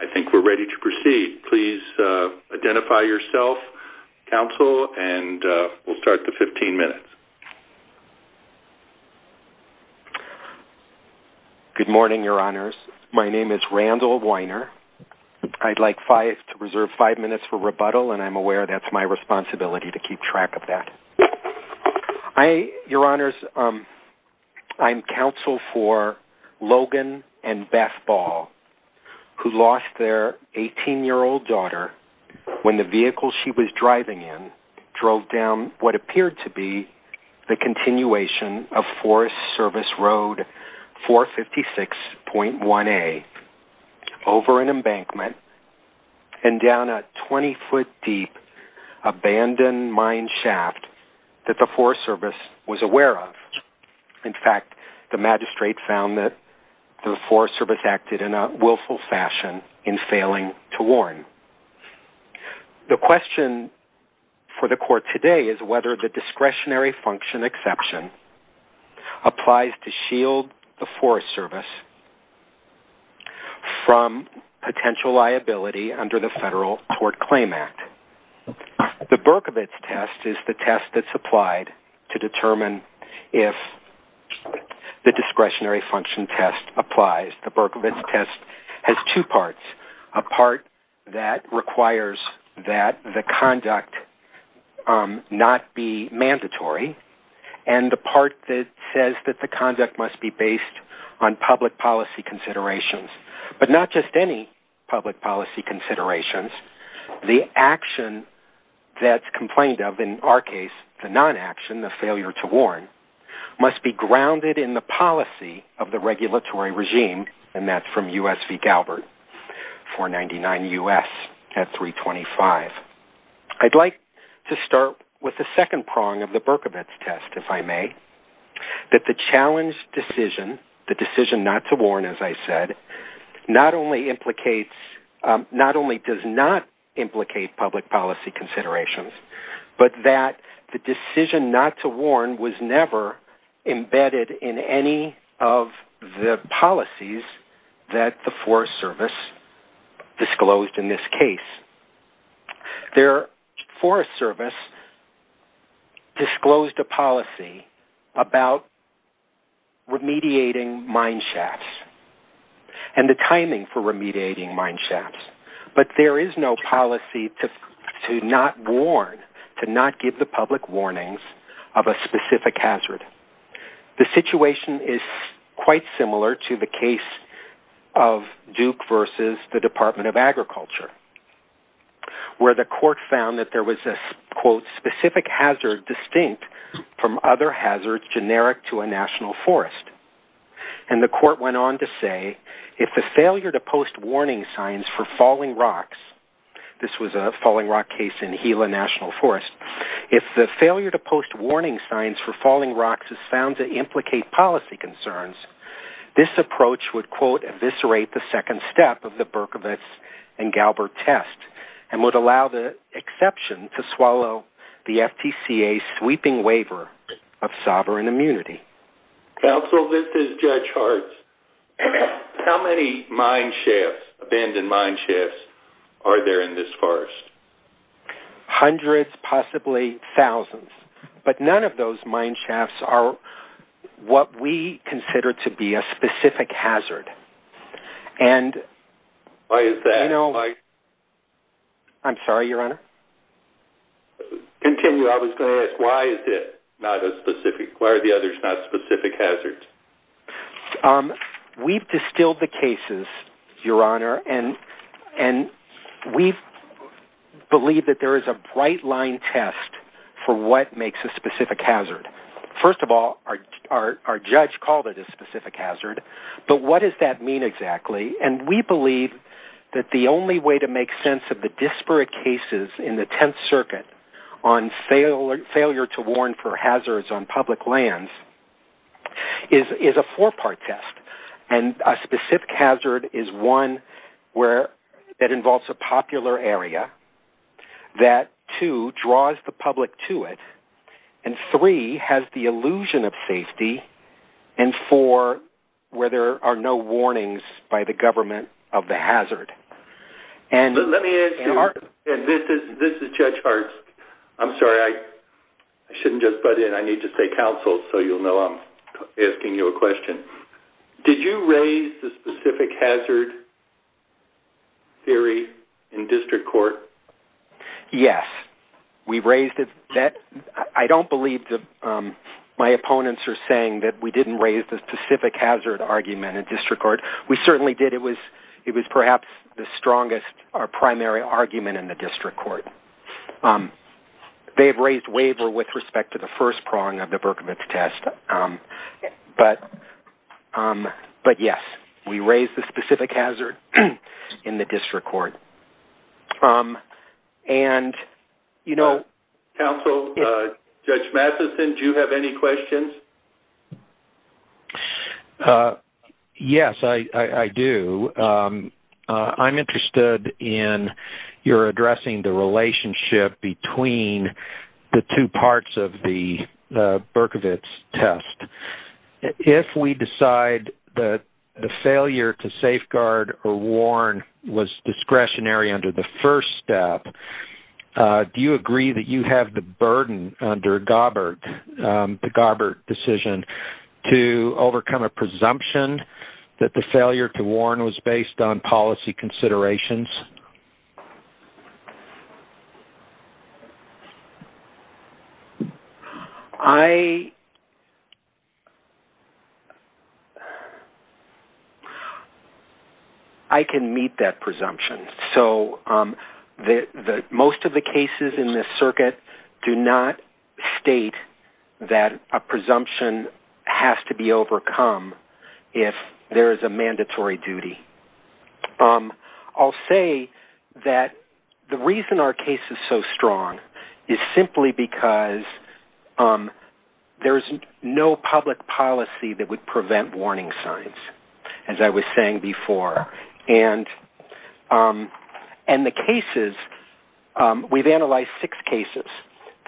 I think we're ready to proceed. Please identify yourself, counsel, and we'll start the 15 minutes. Good morning, your honors. My name is Randall Weiner. I'd like to reserve five minutes for rebuttal, and I'm aware that's my responsibility to keep track of that. I, your honors, I'm counsel for Logan and Beth Ball, who lost their 18-year-old daughter when the vehicle she was driving in drove down what appeared to be the continuation of Forest Service action. In fact, the magistrate found that the Forest Service acted in a willful fashion in failing to warn. The question for the court today is whether the discretionary function exception applies to shield the Forest Service from potential liability under the Federal Tort Claim Act. The Berkovitz test is the test that's applied to determine if the discretionary function test applies. The Berkovitz test has two parts. A part that requires that the conduct not be mandatory, and the part that says that the conduct must be based on public policy considerations. But not just any public policy considerations, the action that's complained of, in our case, the non-action, the failure to warn, must be grounded in the policy of the regulatory regime, and that's from U.S. v. Galbert, 499 U.S. at 325. I'd like to start with the second prong of the Berkovitz test, if I said, not only implicates, not only does not implicate public policy considerations, but that the decision not to warn was never embedded in any of the policies that the Forest Service disclosed in this case. The Forest Service disclosed a policy about remediating mine shafts. And the timing for remediating mine shafts. But there is no policy to not warn, to not give the public warnings of a specific hazard. The situation is quite similar to the case of Duke v. the Department of Agriculture, where the court found that there was a, quote, specific hazard distinct from other hazards generic to a national forest. And the court went on to say, if the failure to post warning signs for falling rocks, this was a falling rock case in Gila National Forest, if the failure to post warning signs for falling rocks is found to implicate policy concerns, this approach would, quote, eviscerate the second step of the Berkovitz and Galbert test, and would allow the exception to swallow the FTCA's sweeping waiver of sovereign immunity. Counsel, this is Judge Hart. How many mine shafts, abandoned mine shafts, are there in this forest? Hundreds, possibly thousands. But none of those mine shafts are what we consider to be a specific hazard. And... Why is that? You know, I... I'm sorry, Your Honor? Continue. I was going to ask, why is it not a specific... Why are the others not specific hazards? We've distilled the cases, Your Honor, and we've believed that there is a bright line test for what makes a specific hazard. First of all, our judge called it a specific hazard, but what does that mean exactly? And we believe that the only way to make sense of the disparate cases in the Tenth Circuit on failure to warn for hazards on public lands is a four-part test. And a specific hazard is one where that involves a popular area, that, two, draws the public to it, and three, has the illusion of safety, and four, where there are no warnings by the government of the hazard. And... Let me ask you, and this is Judge Hart's... I'm sorry, I shouldn't just butt in. I need to say counsel, so you'll know I'm asking you a question. Did you raise the I don't believe my opponents are saying that we didn't raise the specific hazard argument in district court. We certainly did. It was perhaps the strongest or primary argument in the district court. They've raised waiver with respect to the first prong of the Berkovitz test, but yes, we raised the specific hazard in the district court. And, you know... Counsel, Judge Matheson, do you have any questions? Yes, I do. I'm interested in your addressing the relationship between the two parts of the Berkovitz test. If we decide that the failure to safeguard or warn was discretionary under the first step, do you agree that you have the burden under Gabbert, the Gabbert decision, to overcome a presumption that the failure to warn was based on policy considerations? I can meet that presumption. So, most of the cases in this circuit do not state that a that the reason our case is so strong is simply because there's no public policy that would prevent warning signs, as I was saying before. And the cases, we've analyzed six cases.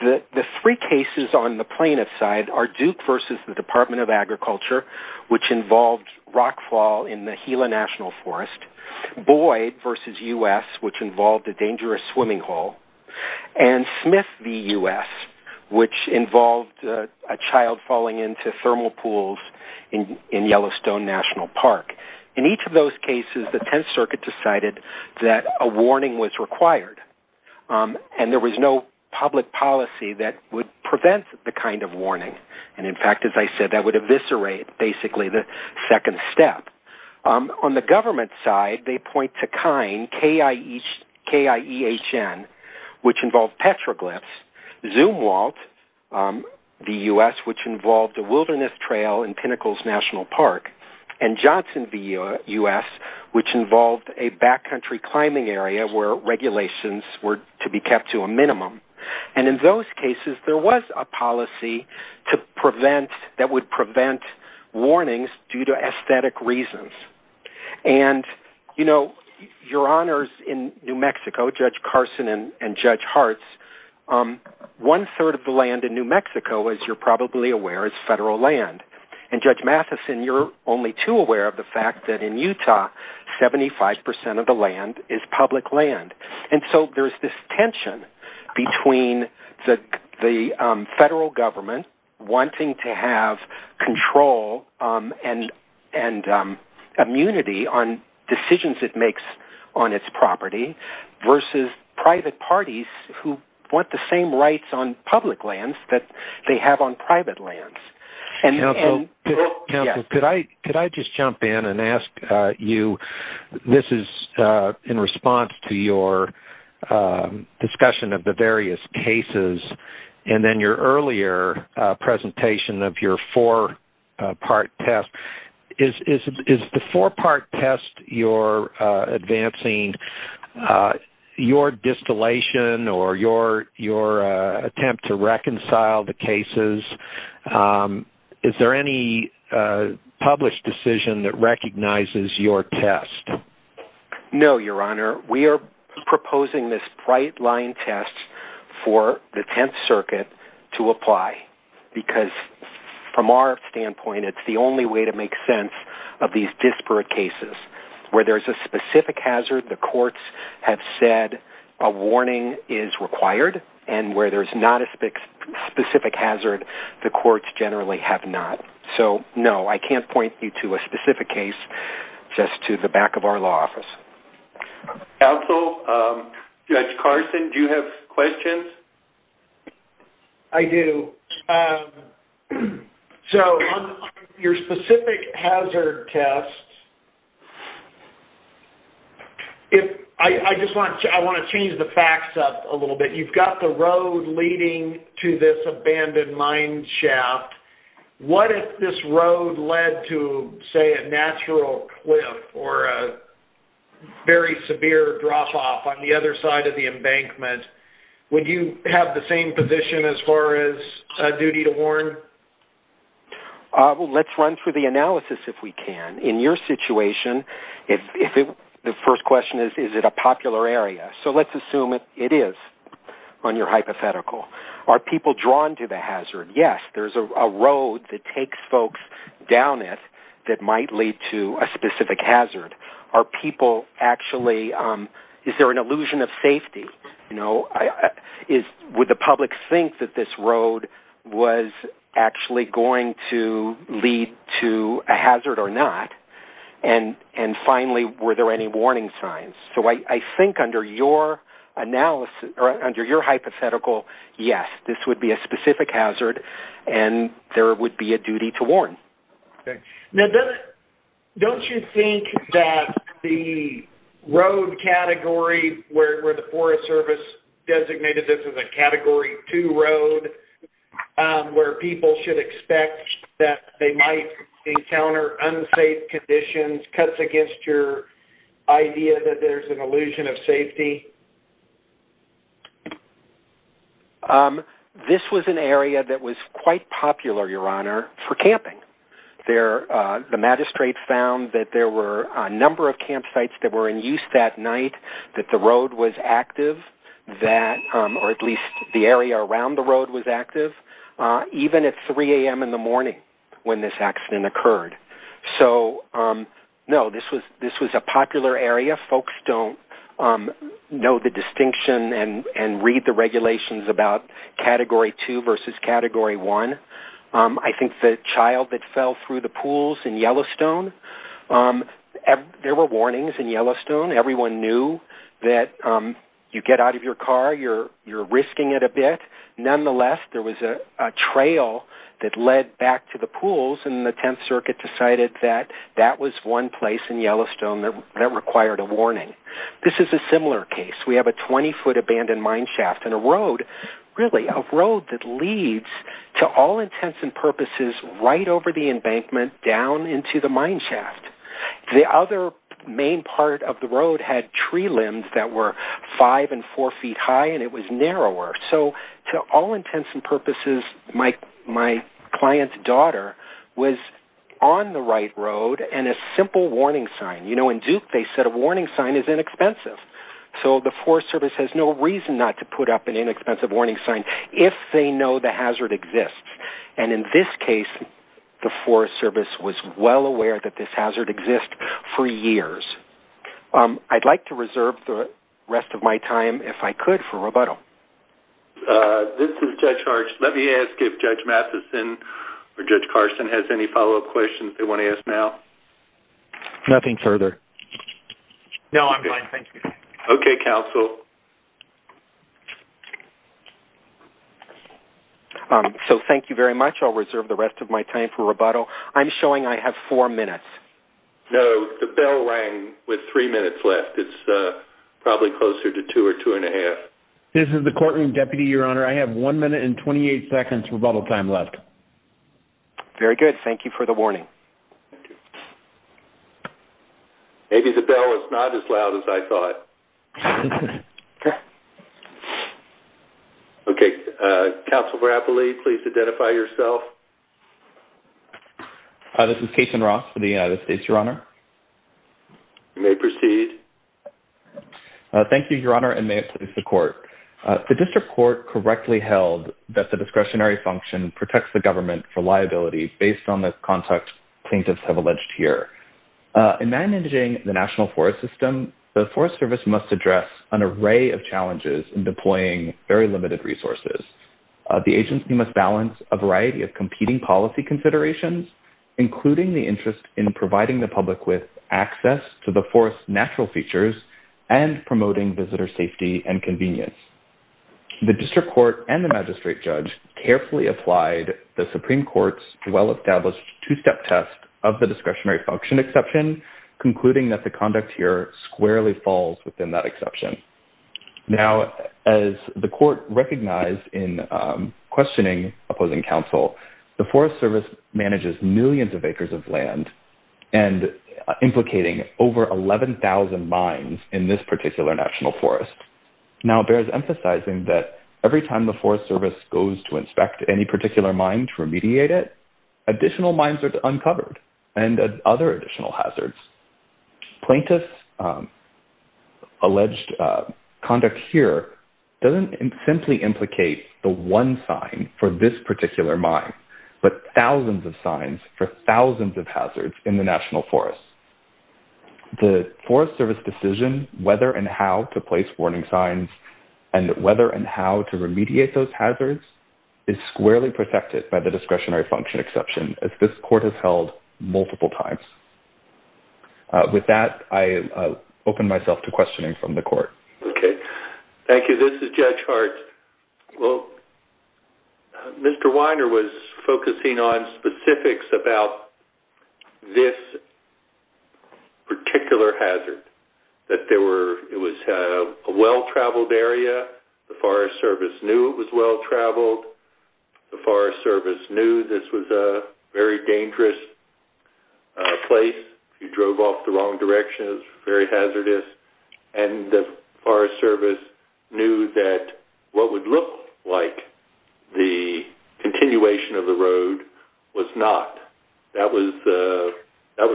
The three cases on the plaintiff's side are Duke versus the Department of Agriculture, which involved rockfall in the Gila National Forest. Boyd versus U.S., which involved a dangerous swimming hole. And Smith v. U.S., which involved a child falling into thermal pools in Yellowstone National Park. In each of those cases, the Tenth Circuit decided that a warning was required. And there was no public policy that would prevent the kind of warning. And, in fact, as I said, that would eviscerate, basically, the second step. On the government side, they point to KINE, K-I-E-H-N, which involved petroglyphs. Zumwalt v. U.S., which involved a wilderness trail in Pinnacles National Park. And Johnson v. U.S., which involved a backcountry climbing area where regulations were to be kept to a minimum. And in those cases, there was a policy that would prevent warnings due to aesthetic reasons. And, you know, your honors in New Mexico, Judge Carson and Judge Hartz, one-third of the land in New Mexico, as you're probably aware, is federal land. And, Judge Matheson, you're only too aware of the fact that in Utah, 75 percent of the land is public land. And so there's this tension between the federal government wanting to have control and immunity on decisions it makes on its property versus private parties who want the same rights on public lands that they have on private lands. Counsel, could I just jump in and ask you, this is in response to your discussion of the various cases and then your earlier presentation of your four-part test. Is the four-part test you're advancing your distillation or your attempt to reconcile the is there any published decision that recognizes your test? No, your honor. We are proposing this bright line test for the Tenth Circuit to apply, because from our standpoint, it's the only way to make sense of these disparate cases. Where there's a specific hazard, the courts have said a warning is required. And where there's not a specific hazard, the courts generally have not. So, no, I can't point you to a specific case, just to the back of our law office. Counsel, Judge Carson, do you have questions? I do. So, on your specific hazard test, I just want to change the facts up a little bit. You've got the road leading to this abandoned mine shaft. What if this road led to, say, a natural cliff or a very severe drop-off on the other side of the embankment? Would you have the same position as far as a duty to warn? Well, let's run through the analysis, if we can. In your situation, the first question is, is it a popular area? So, let's assume it is on your hypothetical. Are people drawn to the hazard? Yes, there's a road that takes folks down it that might lead to a specific hazard. Are people actually, is there an illusion of safety? Would the public think that this road was actually going to lead to a hazard or not? And, finally, were there any warning signs? So, I think under your analysis or under your hypothetical, yes, this would be a specific hazard and there would be a duty to warn. Okay. Now, don't you think that the road category where the Forest Service designated this as a Category 2 road where people should expect that they might encounter unsafe conditions cuts against your idea that there's an illusion of safety? This was an area that was quite popular, Your Honor, for camping. The magistrate found that there were a number of campsites that were in use that night, that the road was active, that, or at least the area around the road was active, even at 3 a.m. in the morning when this accident occurred. So, no, this was a popular area. Folks don't know the distinction and read the regulations about Category 2 versus Category 1. I think the child that fell through the pools in Yellowstone, there were warnings in Yellowstone. Everyone knew that you get out of your car, you're risking it a bit. Nonetheless, there was a trail that led back to the pools and the Tenth Circuit decided that that was one place in Yellowstone that required a warning. This is a similar case. We have a 20-foot abandoned mineshaft and a road, really, a road that leads to all intents and purposes right over the embankment down into the mineshaft. The other main part of the road had tree limbs that were five and four feet high and it was narrower. So, to all intents and purposes, my client's daughter was on the right road and a simple warning sign. In Duke, they said a warning sign is inexpensive. So, the Forest Service has no reason not to put up an inexpensive warning sign if they know the hazard exists. And in this case, the Forest Service was well aware that this hazard exists for years. I'd like to reserve the rest of my time, if I could, for rebuttal. This is Judge Harsh. Let me ask if Judge Matheson or Judge Carson has any follow-up questions they want to ask now. Nothing further. No, I'm fine, thank you. Okay, counsel. So, thank you very much. I'll reserve the rest of my time for rebuttal. I'm showing I have four minutes. No, the bell rang with three minutes left. It's probably closer to two or two and a half. This is the courtroom deputy, Your Honor. I have one minute and 28 seconds rebuttal time left. Very good. Thank you for the warning. Thank you. Maybe the bell was not as loud as I thought. Okay. Okay, counsel Rapoli, please identify yourself. This is Cason Ross for the United States, Your Honor. You may proceed. Thank you, Your Honor, and may it please the court. The district court correctly held that discretionary function protects the government for liability based on the context plaintiffs have alleged here. In managing the national forest system, the Forest Service must address an array of challenges in deploying very limited resources. The agency must balance a variety of competing policy considerations, including the interest in providing the public with access to the forest's natural features and promoting visitor safety and convenience. The district court and the magistrate judge carefully applied the Supreme Court's well-established two-step test of the discretionary function exception, concluding that the conduct here squarely falls within that exception. Now, as the court recognized in questioning opposing counsel, the Forest Service manages millions of acres of land and implicating over 11,000 mines in this particular national forest. Now, it bears emphasizing that every time the Forest Service goes to inspect any particular mine to remediate it, additional mines are uncovered and other additional hazards. Plaintiffs' alleged conduct here doesn't simply implicate the one sign for this particular mine, but thousands of signs for thousands of hazards in the national forest. The Forest Service decision whether and how to place warning signs and whether and how to remediate those hazards is squarely protected by the discretionary function exception, as this court has held multiple times. With that, I open myself to questioning from the court. Okay. Thank you. This is Judge Hart. Well, Mr. Weiner was focusing on specifics about this particular hazard, that it was a well-traveled area. The Forest Service knew it was well-traveled. The Forest Service knew this was a very dangerous place. If you drove off the road, the Forest Service knew that what would look like the continuation of the road was not. That was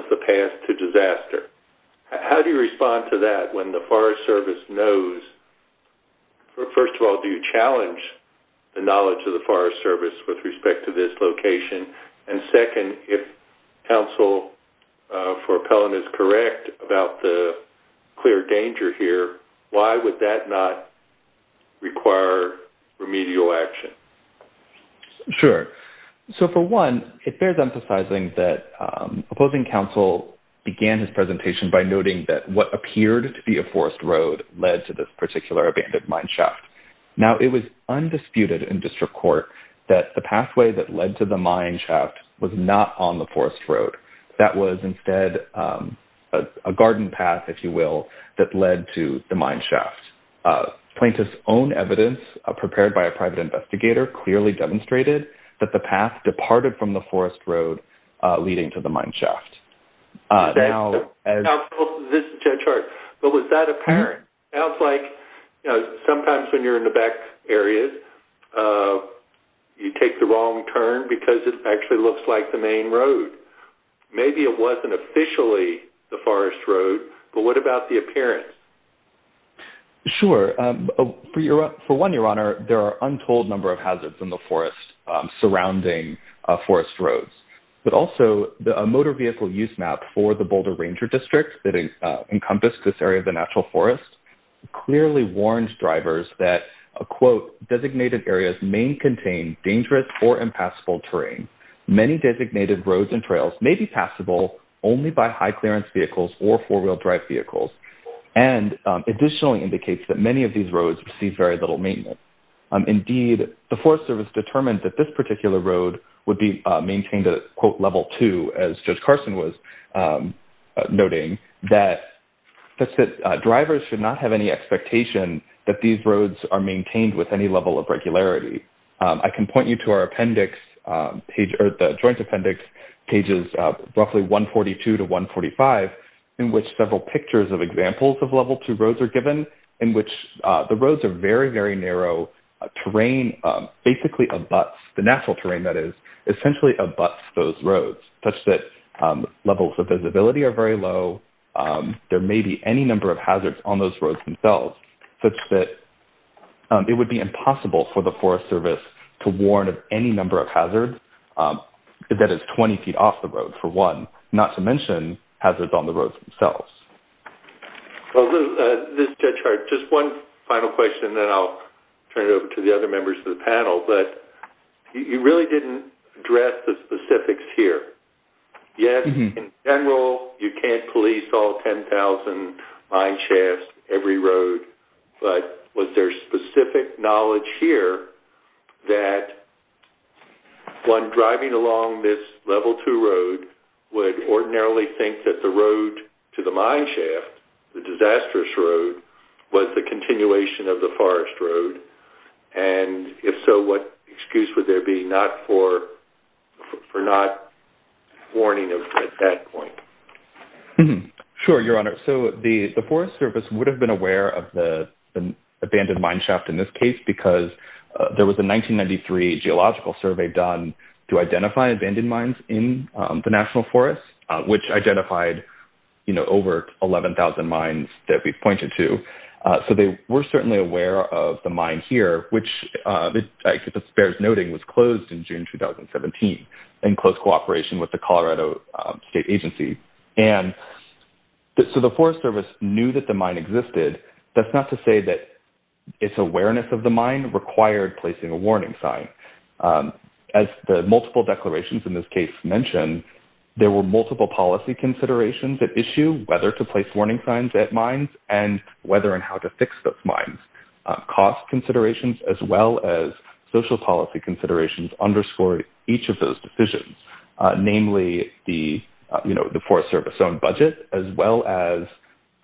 the path to disaster. How do you respond to that when the Forest Service knows? First of all, do you challenge the knowledge of the Forest Service with respect to this location? Second, if counsel for Appellant is correct about the clear danger here, why would that not require remedial action? Sure. For one, it bears emphasizing that opposing counsel began his presentation by noting that what appeared to be a forced road led to this particular abandoned mine shaft. Now, it was undisputed in district court that the pathway that led to the mine shaft was not on the forced road. That was instead a garden path, if you will, that led to the mine shaft. Plaintiff's own evidence, prepared by a private investigator, clearly demonstrated that the path departed from the forced road leading to the mine shaft. This is Judge Hart, but was that apparent? It sounds like sometimes when you're in the back areas, you take the wrong turn because it actually looks like the main road. Maybe it wasn't officially the forest road, but what about the appearance? Sure. For one, Your Honor, there are untold number of hazards in the forest surrounding forced roads, but also the motor vehicle use map for the Boulder Ranger District encompassed this area of the natural forest, clearly warned drivers that, a quote, designated areas may contain dangerous or impassable terrain. Many designated roads and trails may be passable only by high clearance vehicles or four-wheel drive vehicles, and additionally indicates that many of these roads receive very little maintenance. Indeed, the Forest Service determined that this particular road would be maintained at, quote, that drivers should not have any expectation that these roads are maintained with any level of regularity. I can point you to our appendix page, or the Joint Appendix, pages roughly 142 to 145, in which several pictures of examples of level two roads are given, in which the roads are very, very narrow. Terrain basically abuts, the natural terrain that is, essentially abuts those that are low. There may be any number of hazards on those roads themselves, such that it would be impossible for the Forest Service to warn of any number of hazards that is 20 feet off the road, for one, not to mention hazards on the roads themselves. Well, Judge Hart, just one final question, and then I'll turn it over to the other members of the committee. We can't police all 10,000 mineshafts, every road, but was there specific knowledge here that one driving along this level two road would ordinarily think that the road to the mineshaft, the disastrous road, was the continuation of the forest road? And if so, what excuse would there be for not warning at that point? Sure, Your Honor. So the Forest Service would have been aware of the abandoned mineshaft in this case, because there was a 1993 geological survey done to identify abandoned mines in the National Forest, which identified, you know, over 11,000 mines that we pointed to. So they were certainly aware of the mine here, which it bears noting was closed in So the Forest Service knew that the mine existed. That's not to say that its awareness of the mine required placing a warning sign. As the multiple declarations in this case mentioned, there were multiple policy considerations at issue, whether to place warning signs at mines, and whether and how to fix those mines. Cost considerations, as well as social policy considerations, underscored each of those decisions, namely the, you know, the Forest Service own budget, as well as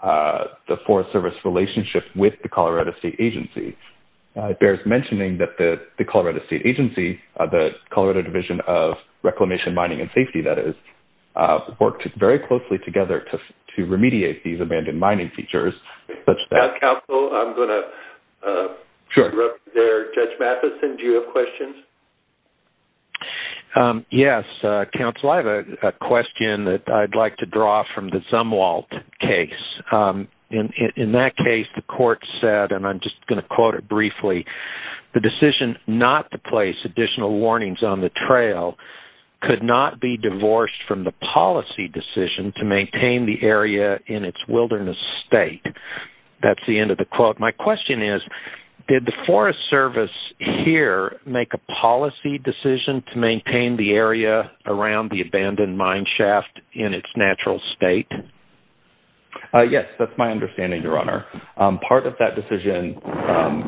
the Forest Service relationship with the Colorado State Agency. It bears mentioning that the Colorado State Agency, the Colorado Division of Reclamation, Mining and Safety, that is, worked very closely together to remediate these abandoned mining features. Council, I'm going to interrupt there. Judge Matheson, do you have questions? Yes, Council, I have a question that I'd like to draw from the Zumwalt case. In that case, the court said, and I'm just going to quote it briefly, the decision not to place additional warnings on the trail could not be divorced from the policy decision to maintain the area in its wilderness state. That's the end of the quote. My question is, did the Forest Service here make a policy decision to maintain the area around the abandoned mine shaft in its natural state? Yes, that's my understanding, Your Honor. Part of that decision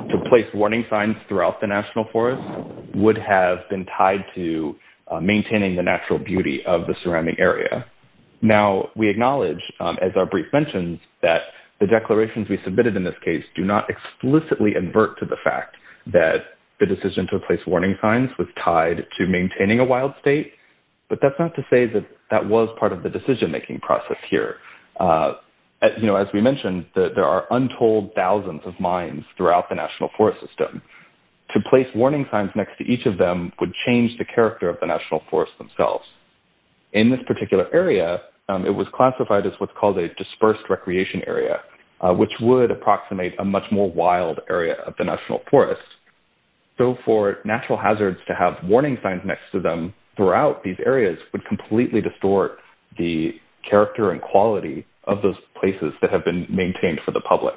to place warning signs throughout the National Forest would have been tied to maintaining the natural beauty of the area. Now, we acknowledge, as our brief mentions, that the declarations we submitted in this case do not explicitly invert to the fact that the decision to place warning signs was tied to maintaining a wild state. But that's not to say that that was part of the decision-making process here. You know, as we mentioned, there are untold thousands of mines throughout the National Forest system. To place warning signs next to each of them would change the character of the National Forest. In this particular area, it was classified as what's called a dispersed recreation area, which would approximate a much more wild area of the National Forest. So, for natural hazards to have warning signs next to them throughout these areas would completely distort the character and quality of those places that have been maintained for the public.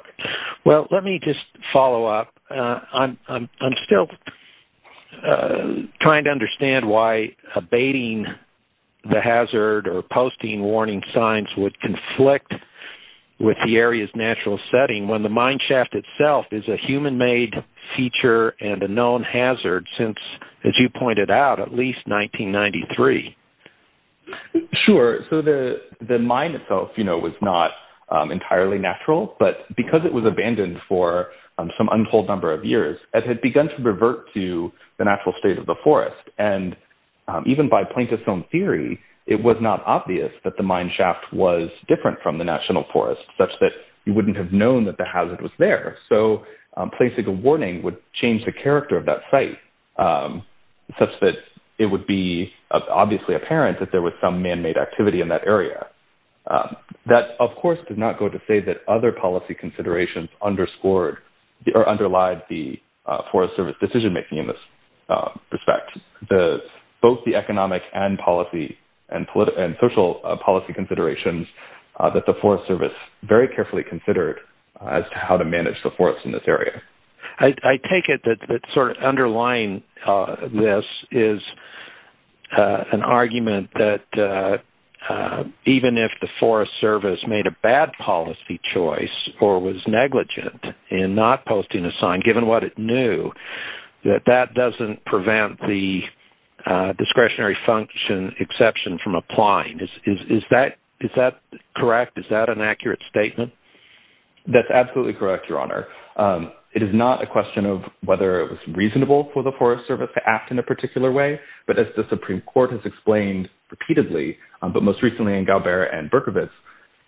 Well, let me just follow up. I'm or posting warning signs would conflict with the area's natural setting when the mine shaft itself is a human-made feature and a known hazard since, as you pointed out, at least 1993. Sure. So, the mine itself, you know, was not entirely natural. But because it was abandoned for some untold number of years, it had begun to revert to the natural state of the forest. And even by plaintiff's own theory, it was not obvious that the mine shaft was different from the National Forest such that you wouldn't have known that the hazard was there. So, placing a warning would change the character of that site such that it would be obviously apparent that there was some man-made activity in that area. That, of course, did not go to say that other policy considerations underscored or underlied the Forest Service decision-making in this respect. Both the economic and policy and social policy considerations that the Forest Service very carefully considered as to how to manage the forest in this area. I take it that sort of underlying this is an argument that even if the Forest Service made a bad policy choice or was negligent in not posting a sign, given what it knew, that that doesn't prevent the discretionary function exception from applying. Is that correct? Is that an accurate statement? That's absolutely correct, Your Honor. It is not a question of whether it was reasonable for the Forest Service to act in a particular way. But as Supreme Court has explained repeatedly, but most recently in Galbert and Berkovitz,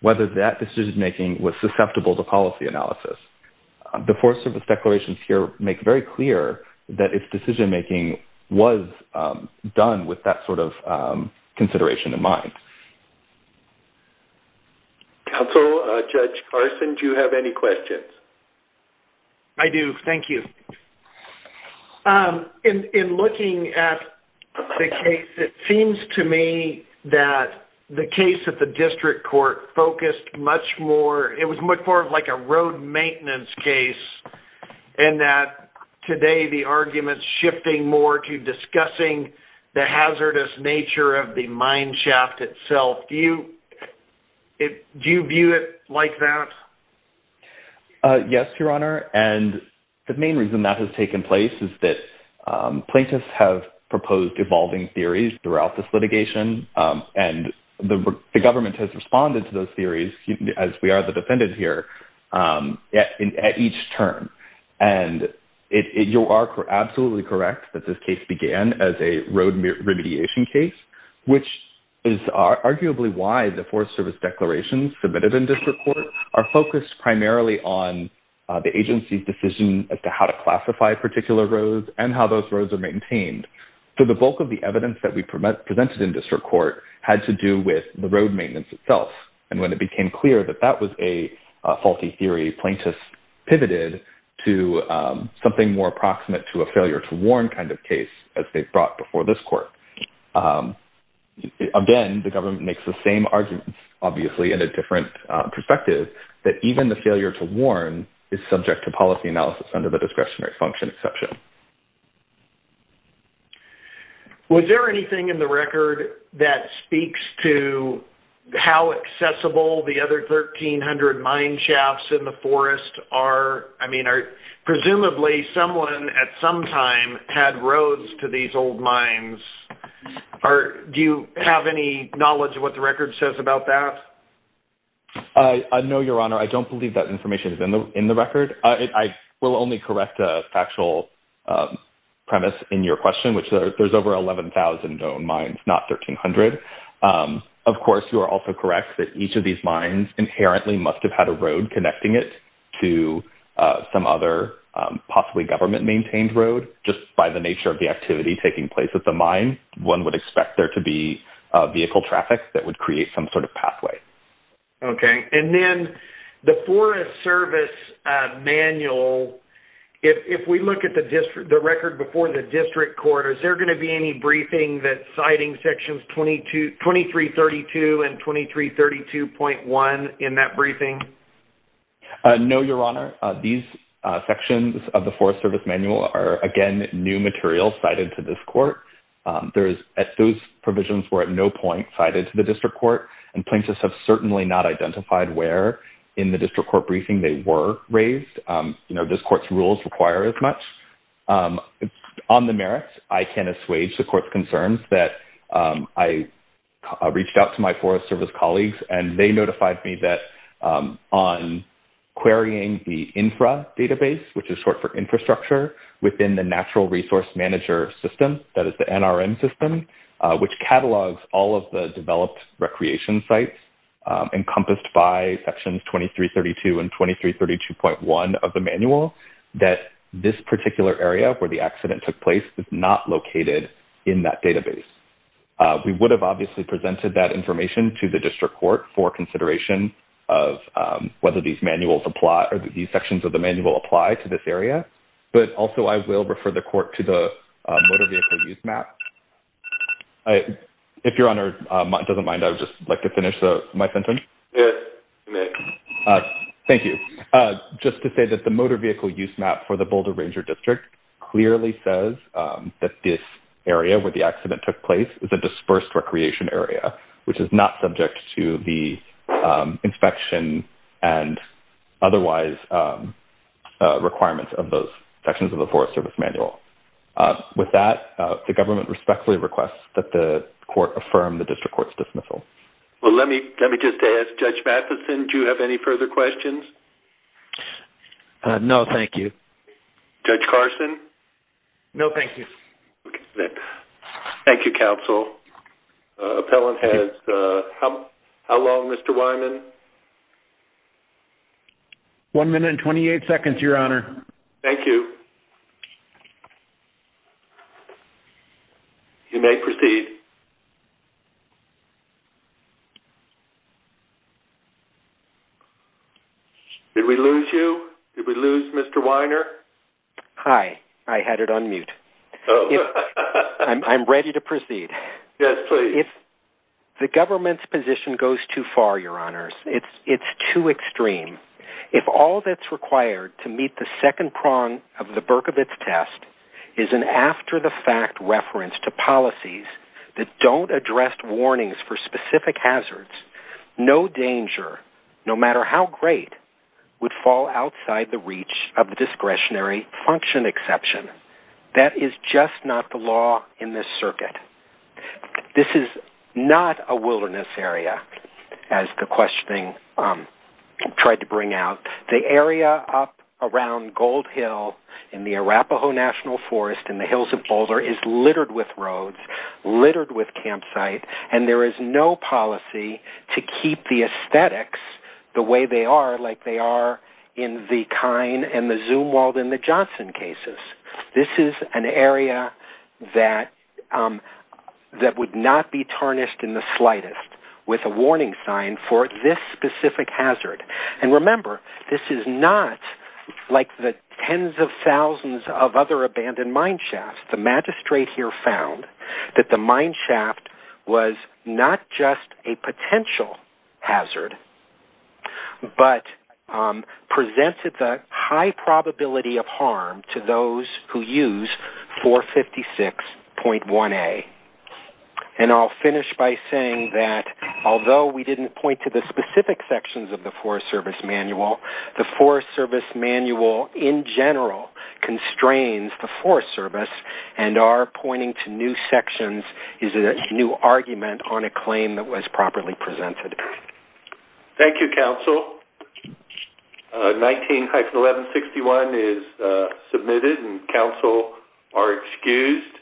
whether that decision-making was susceptible to policy analysis. The Forest Service declarations here make very clear that its decision-making was done with that sort of consideration in mind. Counsel, Judge Carson, do you have any questions? I do. Thank you. In looking at the case, it seems to me that the case at the district court focused much more, it was much more of like a road maintenance case, and that today the argument is shifting more to discussing the hazardous nature of the mine shaft itself. Do you view it like that? Yes, Your Honor. And the main reason that has taken place is that plaintiffs have proposed evolving theories throughout this litigation, and the government has responded to those theories, as we are the defendants here, at each turn. And you are absolutely correct that this case began as a road remediation case, which is arguably why the Forest Service declarations submitted in district court are focused primarily on the agency's decision as to how to classify particular roads and how those roads are maintained. So the bulk of the evidence that we presented in district court had to do with the road maintenance itself. And when it became clear that that was a faulty theory, plaintiffs pivoted to something more approximate to a failure to warn kind of case, as they've brought before this court. Again, the government makes the same arguments, obviously, in a different perspective, that even the failure to warn is subject to policy analysis under the discretionary function exception. Was there anything in the record that speaks to how accessible the other 1,300 mine shafts in the forest are? I mean, presumably someone at some time had roads to these old mines. Do you have any knowledge of what the record says about that? I know, Your Honor, I don't believe that information is in the record. I will only correct a factual premise in your question, which there's over 11,000 known mines, not 1,300. Of course, you are also correct that each of these mines inherently must have had a road connecting it to some other possibly government-maintained road. Just by the nature of the activity taking place at the mine, one would expect there to be vehicle traffic that would create some sort of pathway. Okay. And then the Forest Service manual, if we look at the record before the district court, is there going to be any briefing that No, Your Honor. These sections of the Forest Service manual are, again, new material cited to this court. Those provisions were at no point cited to the district court, and plaintiffs have certainly not identified where in the district court briefing they were raised. You know, this court's rules require as much. On the merits, I can assuage the court's concerns that I reached out to my Forest Service colleagues, and they notified me that on querying the infra database, which is short for infrastructure, within the natural resource manager system, that is the NRM system, which catalogs all of the developed recreation sites, encompassed by sections 2332 and 2332.1 of the manual, that this particular area where the We would have obviously presented that information to the district court for consideration of whether these manuals apply or these sections of the manual apply to this area. But also, I will refer the court to the motor vehicle use map. If Your Honor doesn't mind, I would just like to finish my sentence. Thank you. Just to say that the motor vehicle use map for the Boulder Ranger District clearly says that this area where the accident took place is a dispersed recreation area, which is not subject to the inspection and otherwise requirements of those sections of the Forest Service manual. With that, the government respectfully requests that the court affirm the district court's dismissal. Well, let me just ask, Judge Matheson, do you have any further questions? No, thank you. Judge Carson? No, thank you. Thank you, counsel. How long, Mr. Wyman? One minute and 28 seconds, Your Honor. Thank you. You may proceed. Did we lose you? Did we lose Mr. Weiner? Hi. I had it on mute. I'm ready to proceed. Yes, please. If the government's position goes too far, Your Honors, it's too extreme. If all that's required to meet the second prong of the Berkovitz test is an after-the-fact reference to policies that don't address warnings for specific hazards, no danger, no matter how great, would fall outside the reach of the discretionary function exception. That is just not the law in this circuit. This is not a wilderness area, as the questioning tried to bring out. The area up around Gold Hill in the Arapaho National Forest in the hills of Boulder is littered with campsite, and there is no policy to keep the aesthetics the way they are, like they are in the Kine and the Zumwalt and the Johnson cases. This is an area that would not be tarnished in the slightest with a warning sign for this specific hazard. And remember, this is not like the tens of thousands of other abandoned mine shafts. The magistrate here found that the mine shaft was not just a potential hazard, but presented the high probability of harm to those who use 456.1a. And I'll finish by saying that although we didn't point to the specific sections of the Forest Service Manual, the Forest Service Manual in general constrains the Forest Service, and our pointing to new sections is a new argument on a claim that was properly presented. Thank you, counsel. 19-1161 is submitted, and counsel are excused.